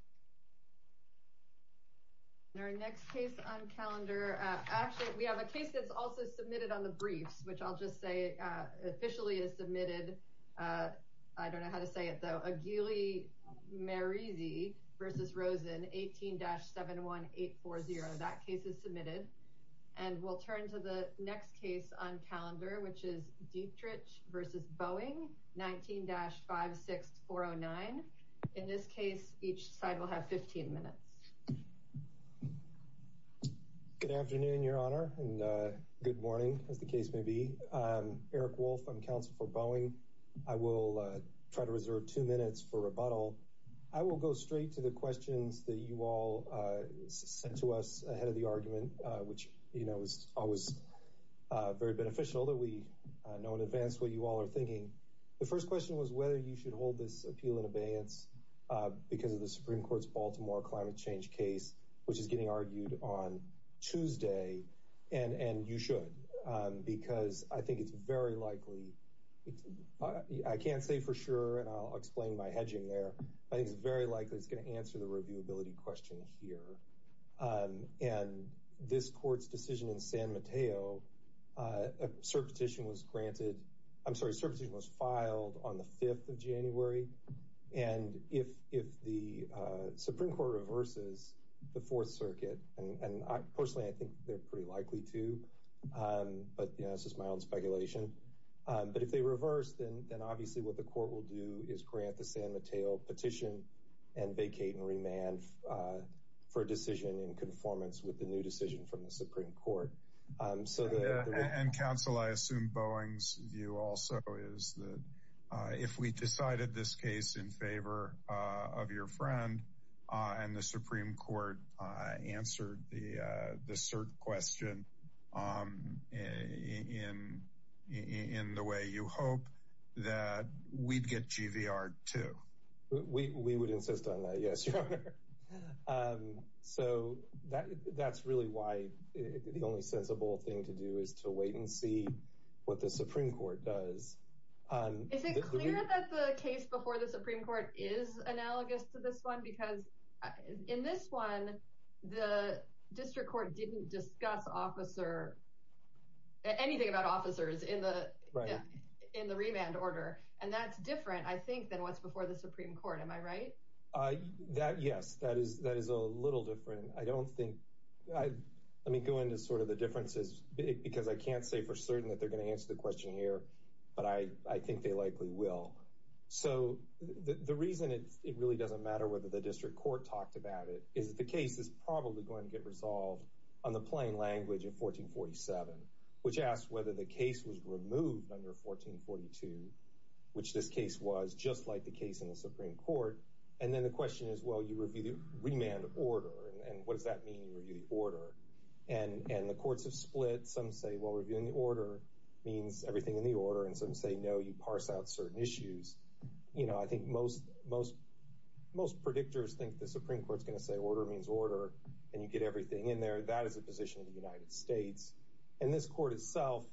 18-71840. And our next case on calendar, we have a case that's also submitted on the briefs, which I'll just say officially is submitted, I don't know how to say it though, Aguile Merizzi v. Rosen, 18-71840. That case is submitted. And we'll turn to the next case on calendar, which is Dietrich v. Boeing, 19-56409. In this case, each side will have 15 minutes. Good afternoon, Your Honor, and good morning, as the case may be. I'm Eric Wolf, I'm counsel for Boeing. I will try to reserve two minutes for rebuttal. I will go straight to the questions that you all sent to us ahead of the argument, which, you know, is always very beneficial that we know in advance what you all are thinking. The first question was whether you should hold this appeal in abeyance because of the Supreme Court's Baltimore climate change case, which is getting argued on Tuesday. And you should, because I think it's very likely, I can't say for sure, and I'll explain my hedging there. I think it's very likely it's going to answer the reviewability question here. And this court's decision in San Mateo, a cert petition was granted, I'm sorry, a cert petition was filed on the 5th of January. And if the Supreme Court reverses the Fourth Circuit, and personally, I think they're pretty likely to, but, you know, this is my own speculation. But if they reverse, then obviously what the court will do is grant the San Mateo petition and vacate and remand for a decision in conformance with the new decision from the Supreme Court. And counsel, I assume Boeing's view also is that if we decided this case in favor of your friend and the Supreme Court answered the cert question in the way you hope, that we'd get GVR too. We would insist on that, yes, your honor. So that's really why the only sensible thing to do is to wait and see what the Supreme Court does. Is it clear that the case before the Supreme Court is analogous to this one? Because in this one, the district court didn't discuss officer, anything about officers in the remand order. And that's different, I think, than what's before the Supreme Court. Am I right? That, yes, that is a little different. I don't think I let me go into sort of the differences because I can't say for certain that they're going to answer the question here, but I think they likely will. So the reason it really doesn't matter whether the district court talked about it is that the case is probably going to get resolved on the plain language of 1447, which asks whether the case was removed under 1442. Which this case was just like the case in the Supreme Court. And then the question is, well, you review the remand order and what does that mean? Review the order and the courts have split. Some say, well, reviewing the order means everything in the order. And some say, no, you parse out certain issues. You know, I think most most most predictors think the Supreme Court is going to say order means order and you get everything in there. That is a position of the United States. And this court itself,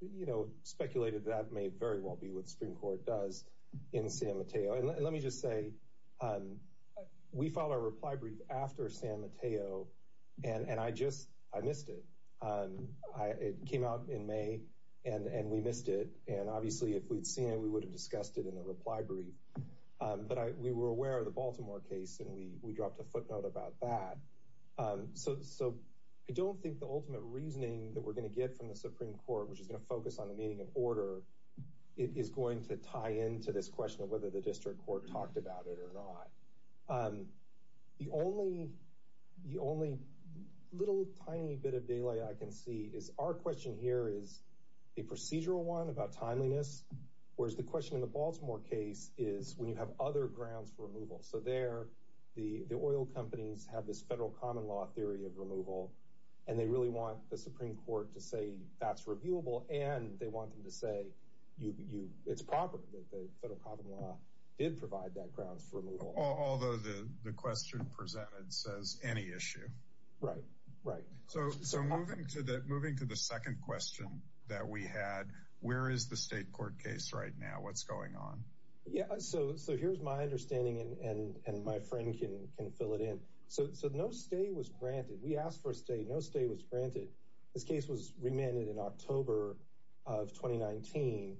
you know, speculated that may very well be what Supreme Court does in San Mateo. And let me just say we follow reply brief after San Mateo. And I just I missed it. I came out in May and we missed it. And obviously, if we'd seen it, we would have discussed it in the reply brief. But we were aware of the Baltimore case and we we dropped a footnote about that. So so I don't think the ultimate reasoning that we're going to get from the Supreme Court, which is going to focus on the meaning of order, it is going to tie into this question of whether the district court talked about it or not. The only the only little tiny bit of delay I can see is our question here is a procedural one about timeliness, whereas the question in the Baltimore case is when you have other grounds for removal. So there the oil companies have this federal common law theory of removal and they really want the Supreme Court to say that's reviewable. And they want them to say, you know, it's proper that the federal common law did provide that grounds for removal. Although the question presented says any issue. Right. Right. So so moving to that, moving to the second question that we had, where is the state court case right now? What's going on? Yeah. So so here's my understanding. And my friend can can fill it in. So no stay was granted. We asked for a stay. No stay was granted. This case was remanded in October of twenty nineteen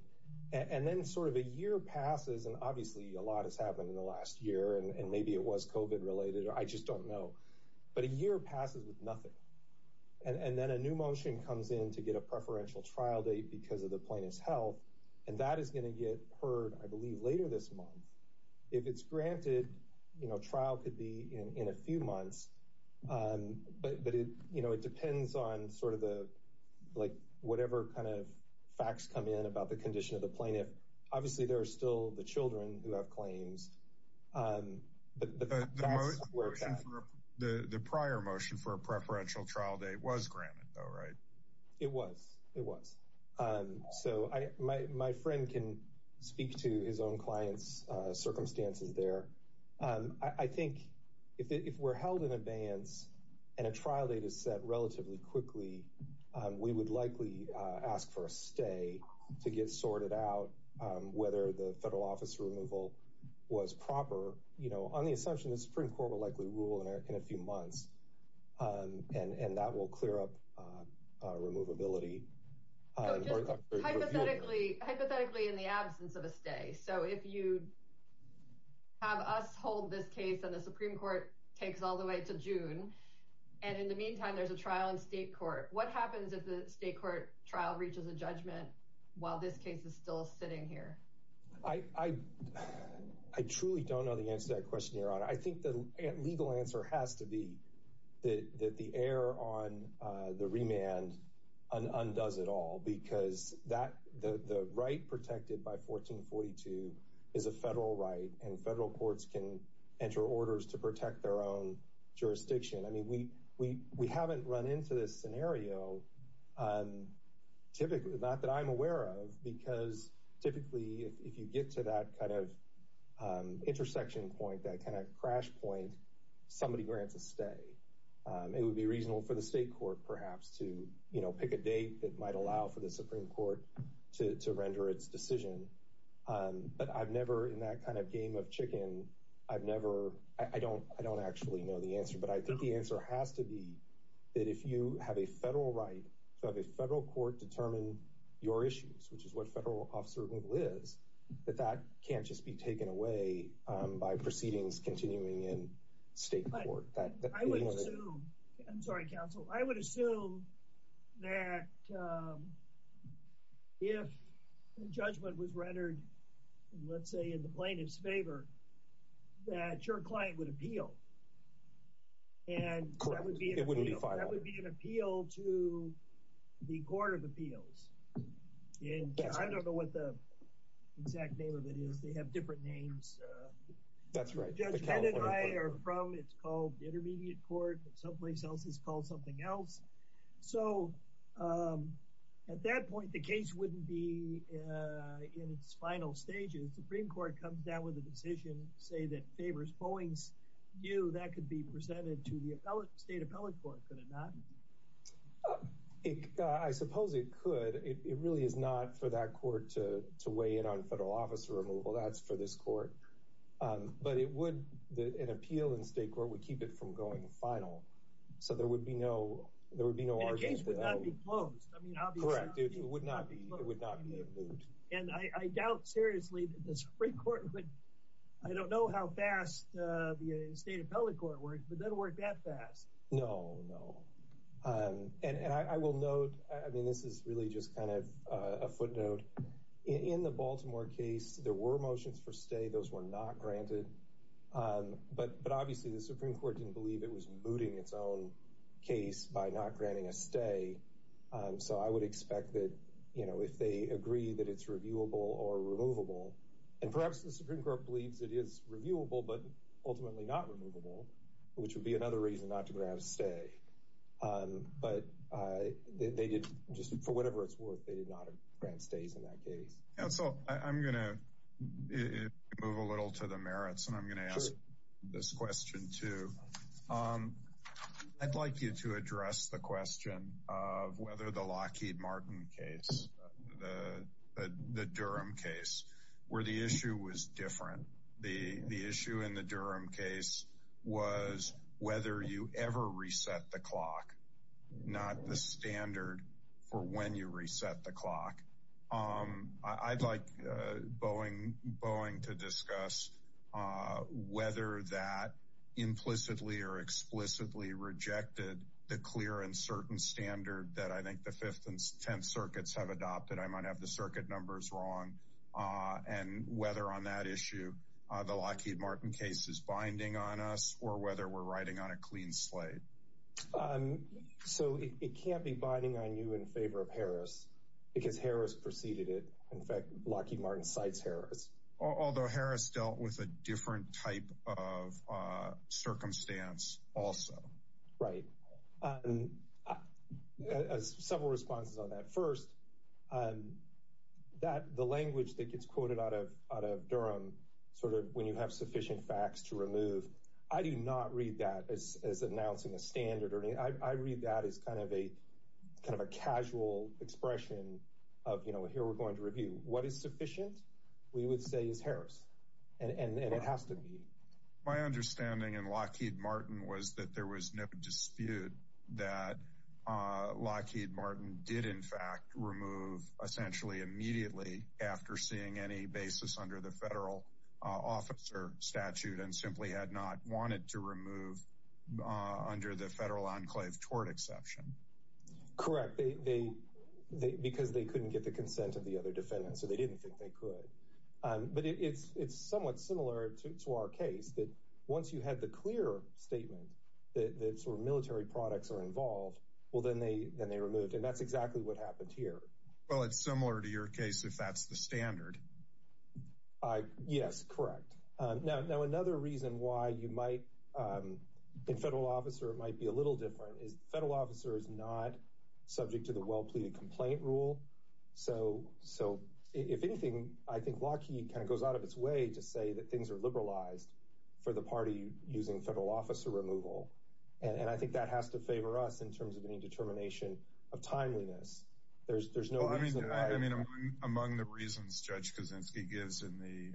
and then sort of a year passes. And obviously a lot has happened in the last year and maybe it was covid related. I just don't know. But a year passes with nothing. And then a new motion comes in to get a preferential trial date because of the plaintiff's health. And that is going to get heard, I believe, later this month. If it's granted, you know, trial could be in a few months. But, you know, it depends on sort of the like whatever kind of facts come in about the condition of the plaintiff. Obviously, there are still the children who have claims. The prior motion for a preferential trial date was granted. All right. It was. It was. So my friend can speak to his own clients circumstances there. I think if we're held in advance and a trial date is set relatively quickly, we would likely ask for a stay to get sorted out whether the federal office removal was proper. You know, on the assumption the Supreme Court will likely rule in a few months and that will clear up removability. Hypothetically, hypothetically, in the absence of a stay. So if you have us hold this case and the Supreme Court takes all the way to June. And in the meantime, there's a trial in state court. What happens if the state court trial reaches a judgment while this case is still sitting here? I truly don't know the answer to that question, Your Honor. I think the legal answer has to be that the air on the remand undoes it all because that the right protected by 1442 is a federal right. And federal courts can enter orders to protect their own jurisdiction. I mean, we we we haven't run into this scenario. Typically, not that I'm aware of, because typically if you get to that kind of intersection point, that kind of crash point, somebody grants a stay. It would be reasonable for the state court perhaps to pick a date that might allow for the Supreme Court to render its decision. But I've never in that kind of game of chicken. I've never I don't I don't actually know the answer, but I think the answer has to be that if you have a federal right to have a federal court determine your issues, which is what federal officer is that that can't just be taken away by proceedings continuing in state court. I'm sorry, counsel. I would assume that if the judgment was rendered, let's say in the plaintiff's favor, that your client would appeal. And that would be an appeal to the Court of Appeals. And I don't know what the exact name of it is. They have different names. That's right. It's called the Intermediate Court someplace else is called something else. So at that point, the case wouldn't be in its final stages. Supreme Court comes down with a decision, say, that favors Boeing's view that could be presented to the state appellate court. Could it not? I suppose it could. It really is not for that court to to weigh in on federal officer removal. That's for this court. But it would. An appeal in state court would keep it from going final. So there would be no there would be no case would not be closed. I mean, correct. It would not be. It would not be. And I doubt seriously that the Supreme Court would. I don't know how fast the state appellate court work, but then work that fast. No, no. And I will note, I mean, this is really just kind of a footnote in the Baltimore case. There were motions for stay. Those were not granted. But but obviously the Supreme Court didn't believe it was mooting its own case by not granting a stay. So I would expect that, you know, if they agree that it's reviewable or removable and perhaps the Supreme Court believes it is reviewable, but ultimately not removable, which would be another reason not to grab a stay. But they did just for whatever it's worth. They did not grant stays in that case. So I'm going to move a little to the merits and I'm going to ask this question, too. I'd like you to address the question of whether the Lockheed Martin case, the Durham case where the issue was different. The issue in the Durham case was whether you ever reset the clock, not the standard for when you reset the clock. I'd like Boeing Boeing to discuss whether that implicitly or explicitly rejected the clear and certain standard that I think the fifth and tenth circuits have adopted. I might have the circuit numbers wrong. And whether on that issue, the Lockheed Martin case is binding on us or whether we're riding on a clean slate. So it can't be binding on you in favor of Harris because Harris preceded it. In fact, Lockheed Martin cites Harris, although Harris dealt with a different type of circumstance. Right. Several responses on that first. That the language that gets quoted out of out of Durham, sort of when you have sufficient facts to remove. I do not read that as announcing a standard. I read that as kind of a kind of a casual expression of, you know, here we're going to review what is sufficient. We would say is Harris. And it has to be my understanding. And Lockheed Martin was that there was no dispute that Lockheed Martin did, in fact, remove essentially immediately after seeing any basis under the federal officer statute and simply had not wanted to remove under the federal enclave tort exception. Correct. They because they couldn't get the consent of the other defendants. So they didn't think they could. But it's it's somewhat similar to our case that once you had the clear statement that sort of military products are involved, well, then they then they removed. And that's exactly what happened here. Well, it's similar to your case, if that's the standard. Yes, correct. Now, another reason why you might be a federal officer, it might be a little different is the federal officer is not subject to the well-pleaded complaint rule. So so if anything, I think Lockheed kind of goes out of its way to say that things are liberalized for the party using federal officer removal. And I think that has to favor us in terms of any determination of timeliness. There's there's no I mean, I mean, among the reasons Judge Kaczynski gives in the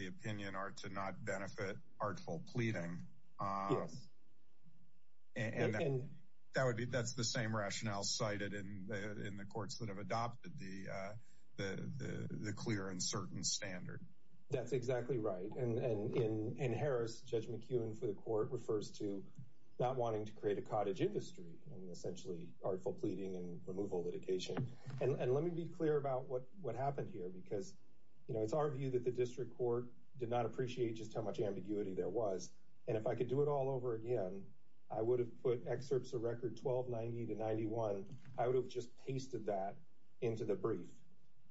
the opinion are to not benefit artful pleading. And that would be that's the same rationale cited in the courts that have adopted the the clear and certain standard. That's exactly right. And in in Harris, Judge McEwen for the court refers to not wanting to create a cottage industry and essentially artful pleading and removal litigation. And let me be clear about what what happened here, because, you know, it's our view that the district court did not appreciate just how much ambiguity there was. And if I could do it all over again, I would have put excerpts of record 1290 to 91. I would have just pasted that into the brief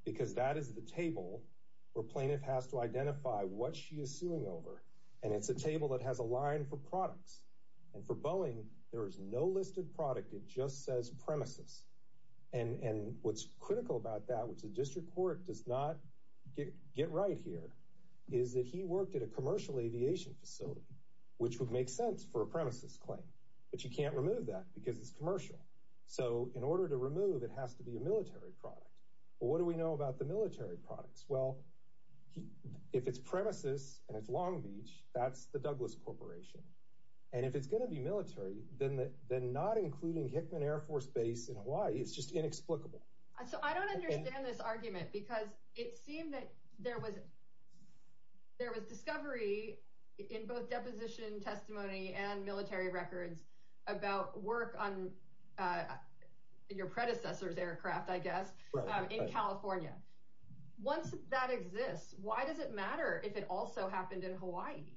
because that is the table where plaintiff has to identify what she is suing over. And it's a table that has a line for products. And for Boeing, there is no listed product. It just says premises. And what's critical about that, which the district court does not get right here, is that he worked at a commercial aviation facility, which would make sense for a premises claim. But you can't remove that because it's commercial. So in order to remove, it has to be a military product. What do we know about the military products? Well, if it's premises and it's Long Beach, that's the Douglas Corporation. And if it's going to be military, then then not including Hickman Air Force Base in Hawaii is just inexplicable. So I don't understand this argument because it seemed that there was there was discovery in both deposition testimony and military records about work on your predecessors aircraft, I guess, in California. Once that exists, why does it matter if it also happened in Hawaii?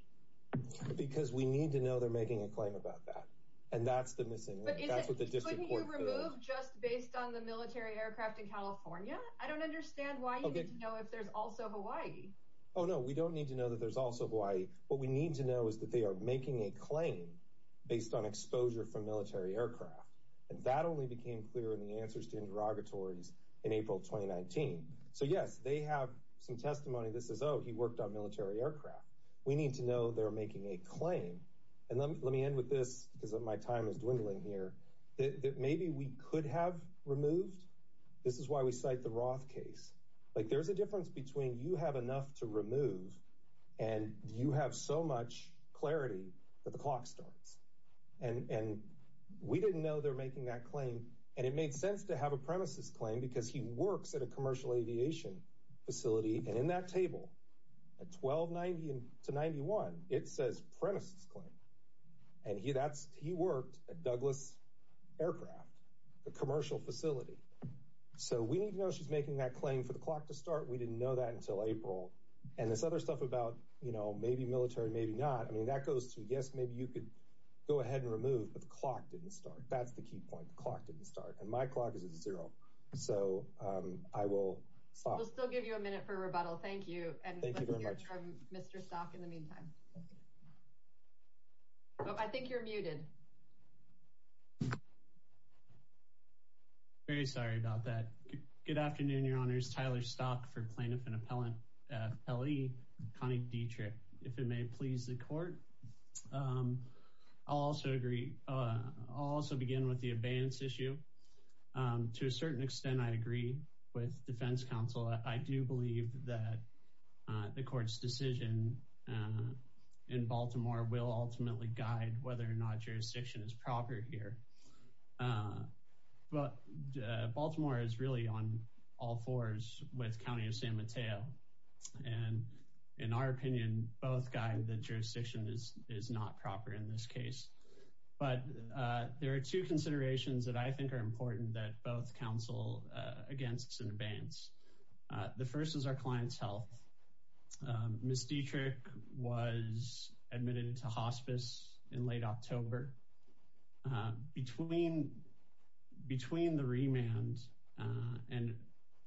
Because we need to know they're making a claim about that. And that's the missing link. That's what the district court does. But couldn't you remove just based on the military aircraft in California? I don't understand why you need to know if there's also Hawaii. Oh, no, we don't need to know that there's also Hawaii. What we need to know is that they are making a claim based on exposure from military aircraft. And that only became clear in the answers to interrogatories in April 2019. So, yes, they have some testimony. This is, oh, he worked on military aircraft. We need to know they're making a claim. And let me end with this because of my time is dwindling here that maybe we could have removed. This is why we cite the Roth case. Like there's a difference between you have enough to remove and you have so much clarity that the clock starts. And we didn't know they're making that claim. And it made sense to have a premises claim because he works at a commercial aviation facility. And in that table at 1290 to 91, it says premises claim. And he that's he worked at Douglas Aircraft, the commercial facility. So we need to know she's making that claim for the clock to start. We didn't know that until April. And this other stuff about, you know, maybe military, maybe not. I mean, that goes to, yes, maybe you could go ahead and remove. But the clock didn't start. That's the key point. The clock didn't start. And my clock is zero. So I will still give you a minute for rebuttal. Thank you. And thank you very much. Mr. Stock in the meantime. I think you're muted. Very sorry about that. Good afternoon, Your Honors. Tyler Stock for plaintiff and appellant. L.E. Connie Dietrich. If it may please the court. Also agree. Also begin with the advance issue. To a certain extent, I agree with defense counsel. I do believe that the court's decision in Baltimore will ultimately guide whether or not jurisdiction is proper here. But Baltimore is really on all fours with County of San Mateo. And in our opinion, both guys, the jurisdiction is not proper in this case. But there are two considerations that I think are important that both counsel against in advance. The first is our client's health. Miss Dietrich was admitted into hospice in late October. Between between the remand and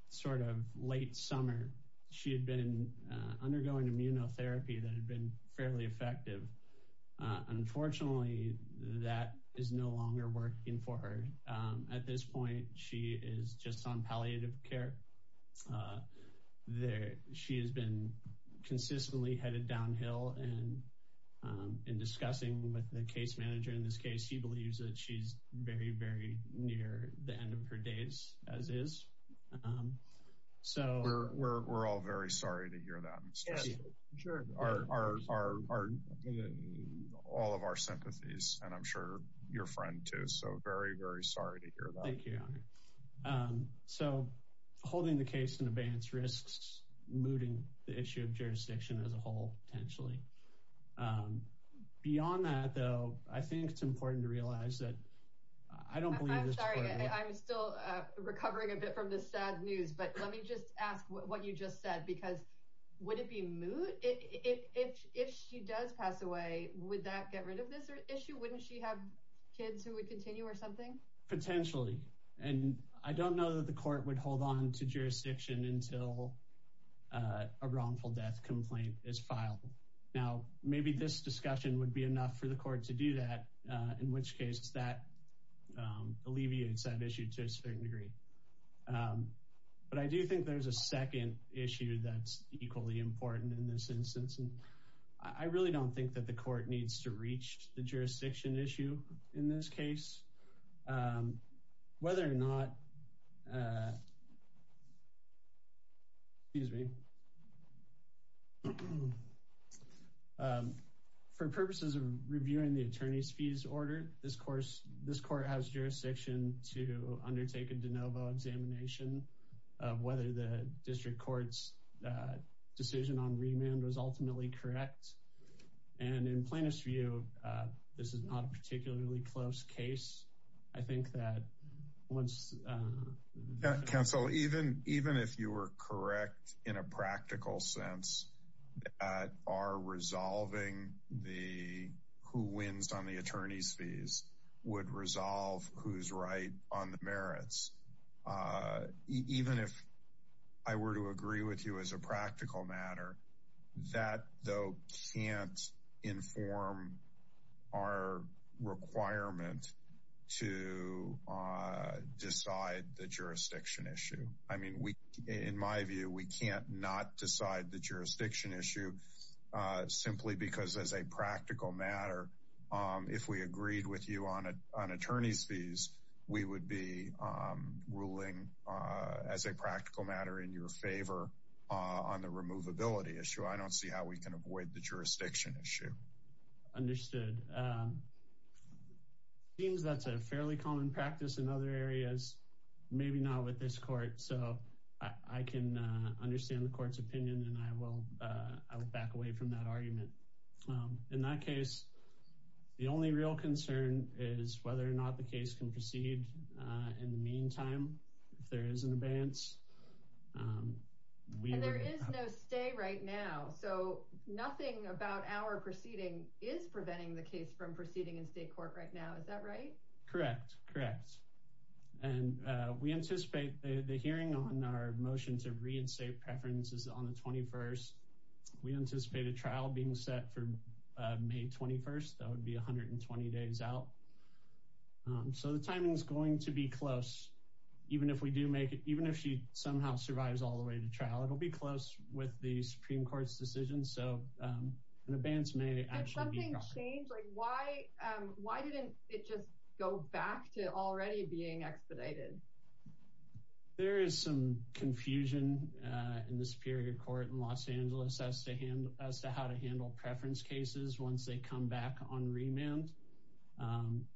sort of late summer, she had been undergoing immunotherapy that had been fairly effective. Unfortunately, that is no longer working for her. At this point, she is just on palliative care there. She has been consistently headed downhill. And in discussing with the case manager in this case, he believes that she's very, very near the end of her days as is. So we're all very sorry to hear that. Sure, are all of our sympathies. And I'm sure your friend, too. So very, very sorry to hear that. Thank you. So holding the case in advance risks mooting the issue of jurisdiction as a whole, potentially. Beyond that, though, I think it's important to realize that I don't believe I'm still recovering a bit from this sad news. But let me just ask what you just said, because would it be moot if she does pass away? Would that get rid of this issue? Wouldn't she have kids who would continue or something? Potentially. And I don't know that the court would hold on to jurisdiction until a wrongful death complaint is filed. Now, maybe this discussion would be enough for the court to do that, in which case that alleviates that issue to a certain degree. But I do think there's a second issue that's equally important in this instance, and I really don't think that the court needs to reach the jurisdiction issue in this case. Whether or not. Excuse me. For purposes of reviewing the attorney's fees order, this course, this court has undertaken de novo examination of whether the district court's decision on remand was ultimately correct. And in plaintiff's view, this is not a particularly close case. I think that once. Counsel, even even if you were correct in a practical sense, are resolving the who wins on the attorney's fees would resolve who's right on the merits. Even if I were to agree with you as a practical matter, that, though, can't inform our requirement to decide the jurisdiction issue. I mean, we in my view, we can't not decide the jurisdiction issue simply because as a practical matter, if we agreed with you on an attorney's fees order, we would be ruling as a practical matter in your favor on the removability issue. I don't see how we can avoid the jurisdiction issue. Understood. Seems that's a fairly common practice in other areas. Maybe not with this court. So I can understand the court's opinion. And I will back away from that argument. In that case, the only real concern is whether or not the case can proceed. In the meantime, if there is an advance. Stay right now. So nothing about our proceeding is preventing the case from proceeding in state court right now. Is that right? Correct. Correct. And we anticipate the hearing on our motion to reinstate preferences on the 21st. We anticipate a trial being set for May 21st. That would be 120 days out. So the timing is going to be close. Even if we do make it, even if she somehow survives all the way to trial, it will be close with the Supreme Court's decision. So an advance may actually be. Why? Why didn't it just go back to already being expedited? There is some confusion in the Superior Court in Los Angeles as to hand as to how to handle preference cases once they come back on remand.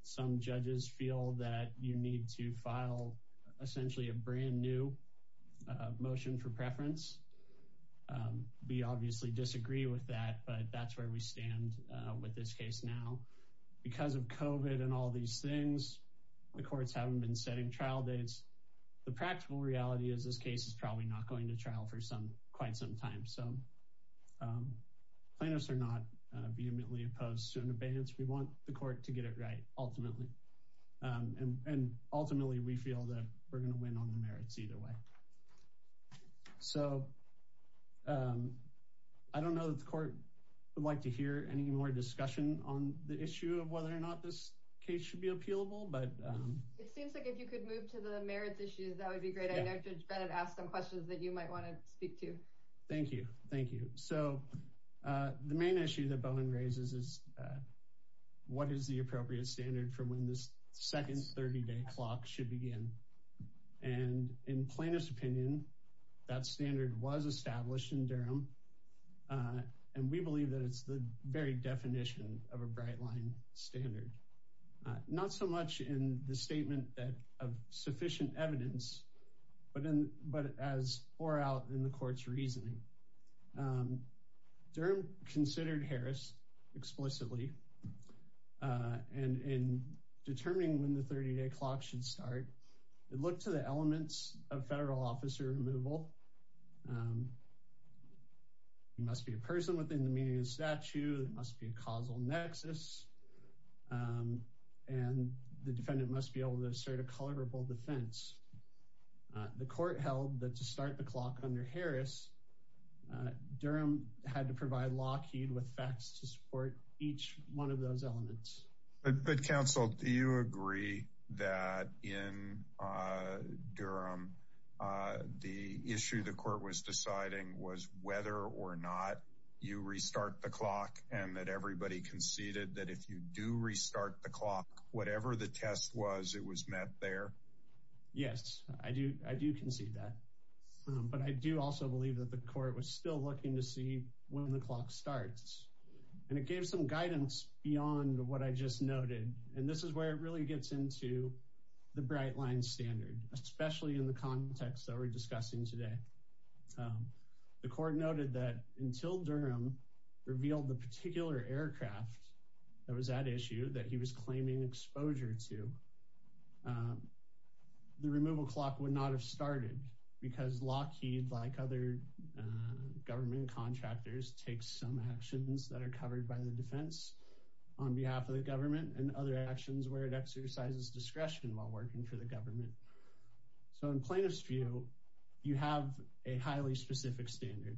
Some judges feel that you need to file essentially a brand new motion for preference. We obviously disagree with that, but that's where we stand with this case now because of COVID and all these things. The courts haven't been setting trial dates. The practical reality is this case is probably not going to trial for some quite some time. So plaintiffs are not vehemently opposed to an advance. We want the court to get it right ultimately. And ultimately, we feel that we're going to win on the merits either way. So I don't know that the court would like to hear any more discussion on the issue of whether or not this case should be appealable. It seems like if you could move to the merits issues, that would be great. I know Judge Bennett asked some questions that you might want to speak to. Thank you. Thank you. So the main issue that Bowen raises is what is the appropriate standard for when this second 30-day clock should begin? And we believe that it's the very definition of a bright line standard. Not so much in the statement of sufficient evidence, but as bore out in the court's reasoning. Durham considered Harris explicitly in determining when the 30-day clock should start. It looked to the elements of federal officer removal. It must be a person within the meaning of the statute. It must be a causal nexus. And the defendant must be able to assert a colorable defense. The court held that to start the clock under Harris, Durham had to provide Lockheed with facts to support each one of those elements. But counsel, do you agree that in Durham, the issue the court was deciding was whether or not you restart the clock and that everybody conceded that if you do restart the clock, whatever the test was, it was met there? Yes, I do concede that. But I do also believe that the court was still looking to see when the clock starts. And it gave some guidance beyond what I just noted. And this is where it really gets into the bright line standard, especially in the context that we're discussing today. The court noted that until Durham revealed the particular aircraft that was at issue that he was claiming exposure to, the removal clock would not have started because Lockheed, like other government contractors, takes some actions that are covered by the defense on behalf of the government and other actions where it exercises discretion while working for the government. So in plaintiff's view, you have a highly specific standard.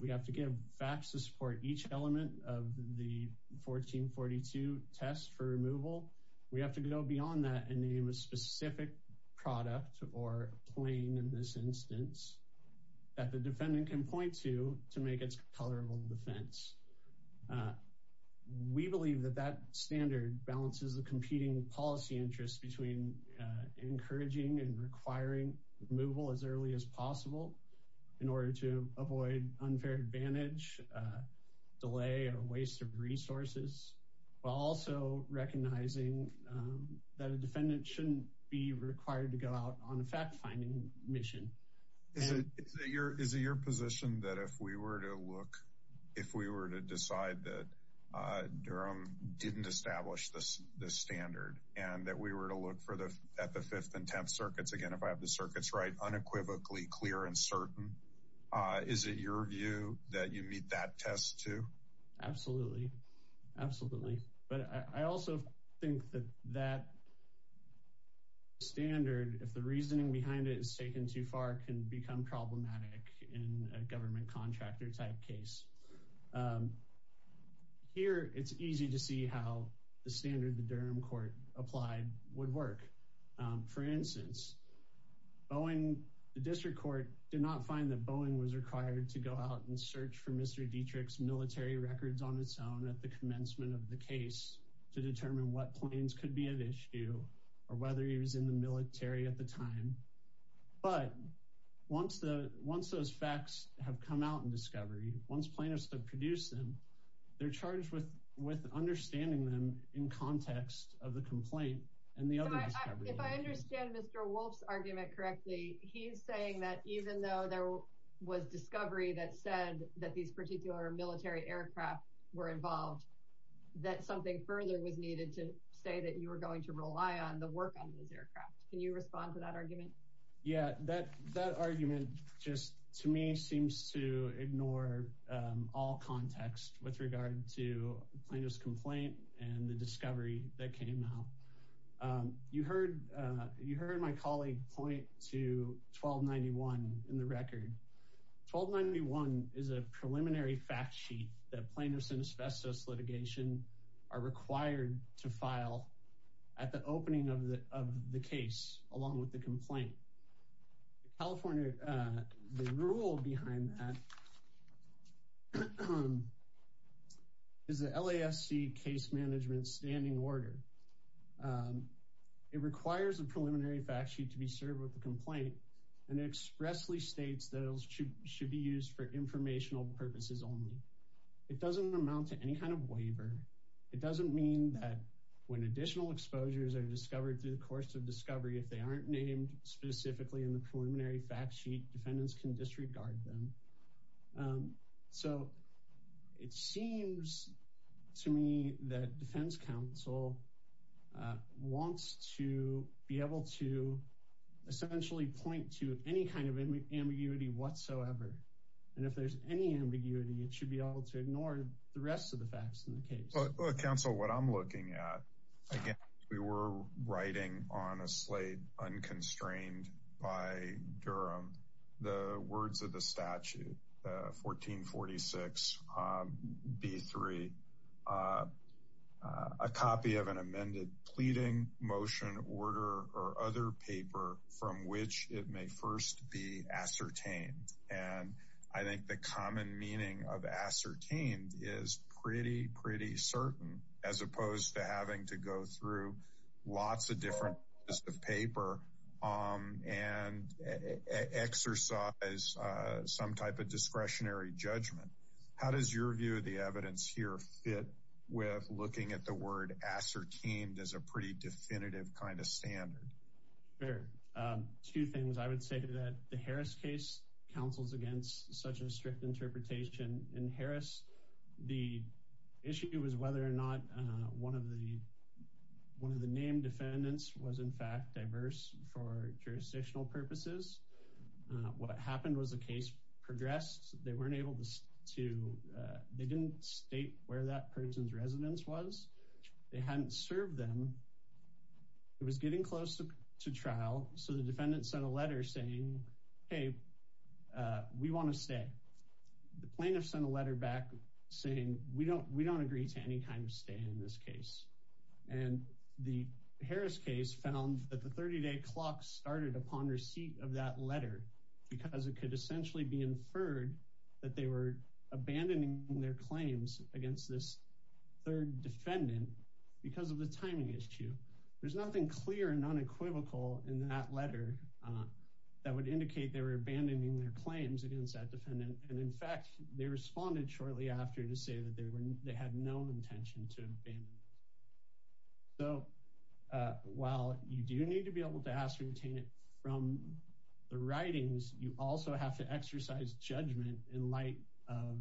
We have to give facts to support each element of the 1442 test for removal. We have to go beyond that and name a specific product or plane in this instance that the defendant can point to to make its tolerable defense. We believe that that standard balances the competing policy interests between encouraging and requiring removal as early as possible in order to avoid unfair advantage, delay, or waste of resources, while also recognizing that a defendant shouldn't be required to go out on a fact-finding mission. Is it your position that if we were to look, if we were to decide that Durham didn't establish this standard and that we were to look at the 5th and 10th circuits, again, if I have the circuits right, unequivocally clear and certain, is it your view that you meet that test, too? Absolutely. Absolutely. But I also think that that standard, if the reasoning behind it is taken too far, can become problematic in a government contractor-type case. Here, it's easy to see how the standard the Durham court applied would work. For instance, the district court did not find that Boeing was required to go out and search for Mr. Dietrich's military records on its own at the commencement of the case to determine what planes could be at issue or whether he was in the military at the time. But once those facts have come out in discovery, once plaintiffs have produced them, they're charged with understanding them in context of the complaint and the other discovery. If I understand Mr. Wolf's argument correctly, he's saying that even though there was discovery that said that these particular military aircraft were involved, that something further was needed to say that you were going to rely on the work on those aircraft. Can you respond to that argument? Yeah, that argument just, to me, seems to ignore all context with regard to plaintiff's complaint and the discovery that came out. You heard my colleague point to 1291 in the record. 1291 is a preliminary fact sheet that plaintiffs in asbestos litigation are required to produce along with the complaint. California, the rule behind that is the LASC case management standing order. It requires a preliminary fact sheet to be served with the complaint and expressly states that it should be used for informational purposes only. It doesn't mean that when additional exposures are discovered through the course of discovery, if they aren't named specifically in the preliminary fact sheet, defendants can disregard them. So it seems to me that defense counsel wants to be able to essentially point to any kind of ambiguity whatsoever. And if there's any ambiguity, it should be able to ignore the rest of the facts in the case. Look, counsel, what I'm looking at, again, we were writing on a slate unconstrained by Durham the words of the statute, 1446B3, a copy of an amended pleading, motion, order, or other paper from which it may first be ascertained. And I think the common meaning of ascertained is pretty, pretty certain as opposed to having to go through lots of different pieces of paper and exercise some type of discretionary judgment. How does your view of the evidence here fit with looking at the word ascertained as a pretty definitive kind of standard? Sure. Two things. I would say that the Harris case counsels against such a strict interpretation. In Harris, the issue is whether or not one of the named defendants was, in fact, diverse for jurisdictional purposes. What happened was the case progressed. They weren't able to state where that person's residence was. They hadn't served them. It was getting close to trial, so the defendant sent a letter saying, hey, we want to stay. The plaintiff sent a letter back saying, we don't agree to any kind of stay in this case. And the Harris case found that the 30-day clock started upon receipt of that letter because it could essentially be inferred that they were abandoning their claims against this third defendant because of the timing issue. There's nothing clear and unequivocal in that letter that would indicate they were abandoning their claims against that defendant. And, in fact, they responded shortly after to say that they had no intention to abandon it. So while you do need to be able to ascertain it from the writings, you also have to exercise judgment in light of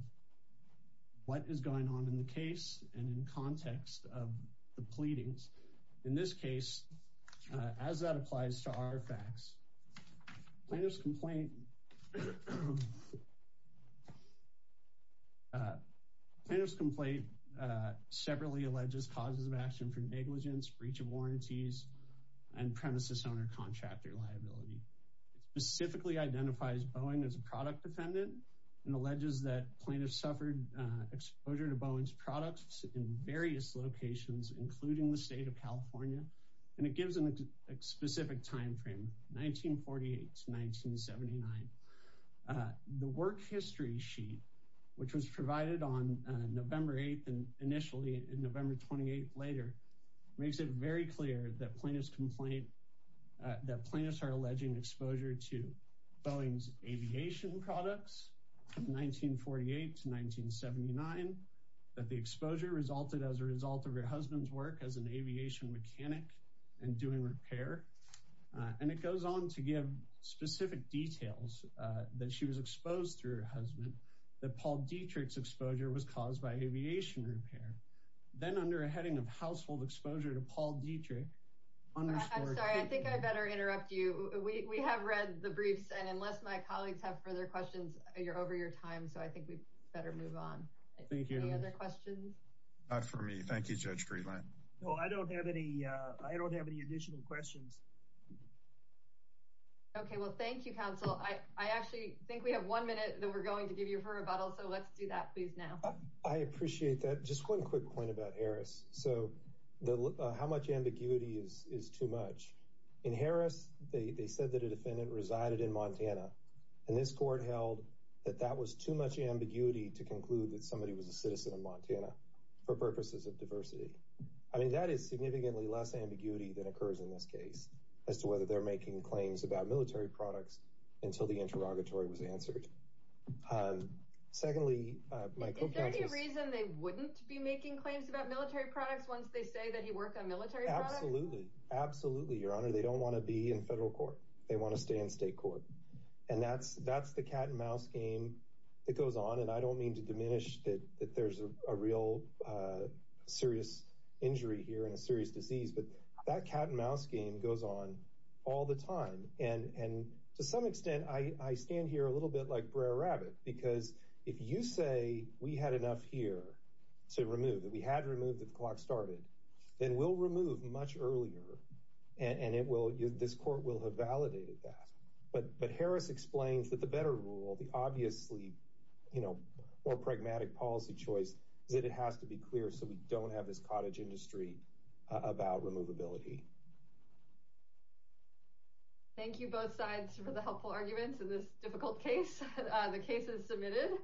what is going on in the case and in context of the pleadings. In this case, as that applies to our facts, plaintiff's complaint separately alleges causes of action for negligence, breach of warranties, and premises owner-contractor liability. It specifically identifies Boeing as a product defendant and alleges that in various locations, including the state of California. And it gives them a specific time frame, 1948 to 1979. The work history sheet, which was provided on November 8th initially and November 28th later, makes it very clear that plaintiffs are alleging exposure to Boeing's aviation products from 1948 to 1979, that the exposure resulted as a result of her husband's work as an aviation mechanic and doing repair. And it goes on to give specific details that she was exposed to her husband, that Paul Dietrich's exposure was caused by aviation repair. Then, under a heading of household exposure to Paul Dietrich. I'm sorry, I think I better interrupt you. We have read the briefs, and unless my colleagues have further questions, you're over your time, so I think we better move on. Thank you. Any other questions? Not for me. Thank you, Judge Friedland. No, I don't have any additional questions. Okay, well, thank you, counsel. I actually think we have one minute that we're going to give you for rebuttal, so let's do that, please, now. I appreciate that. Just one quick point about Harris. In Harris, they said that a defendant resided in Montana. And this court held that that was too much ambiguity to conclude that somebody was a citizen of Montana for purposes of diversity. I mean, that is significantly less ambiguity than occurs in this case, as to whether they're making claims about military products until the interrogatory was answered. Secondly, my co-counsel's... Is there any reason they wouldn't be making claims about military products once they say that he worked on military products? Absolutely. Absolutely, Your Honor. They don't want to be in federal court. They want to stay in state court. And that's the cat-and-mouse game that goes on. And I don't mean to diminish that there's a real serious injury here and a serious disease, but that cat-and-mouse game goes on all the time. And to some extent, I stand here a little bit like Br'er Rabbit, because if you say we had enough here to remove, that we had to remove that the clock started, then we'll remove much earlier. And this court will have validated that. But Harris explains that the better rule, the obviously more pragmatic policy choice, that it has to be clear so we don't have this cottage industry about removability. Thank you both sides for the helpful arguments in this difficult case. The case is submitted.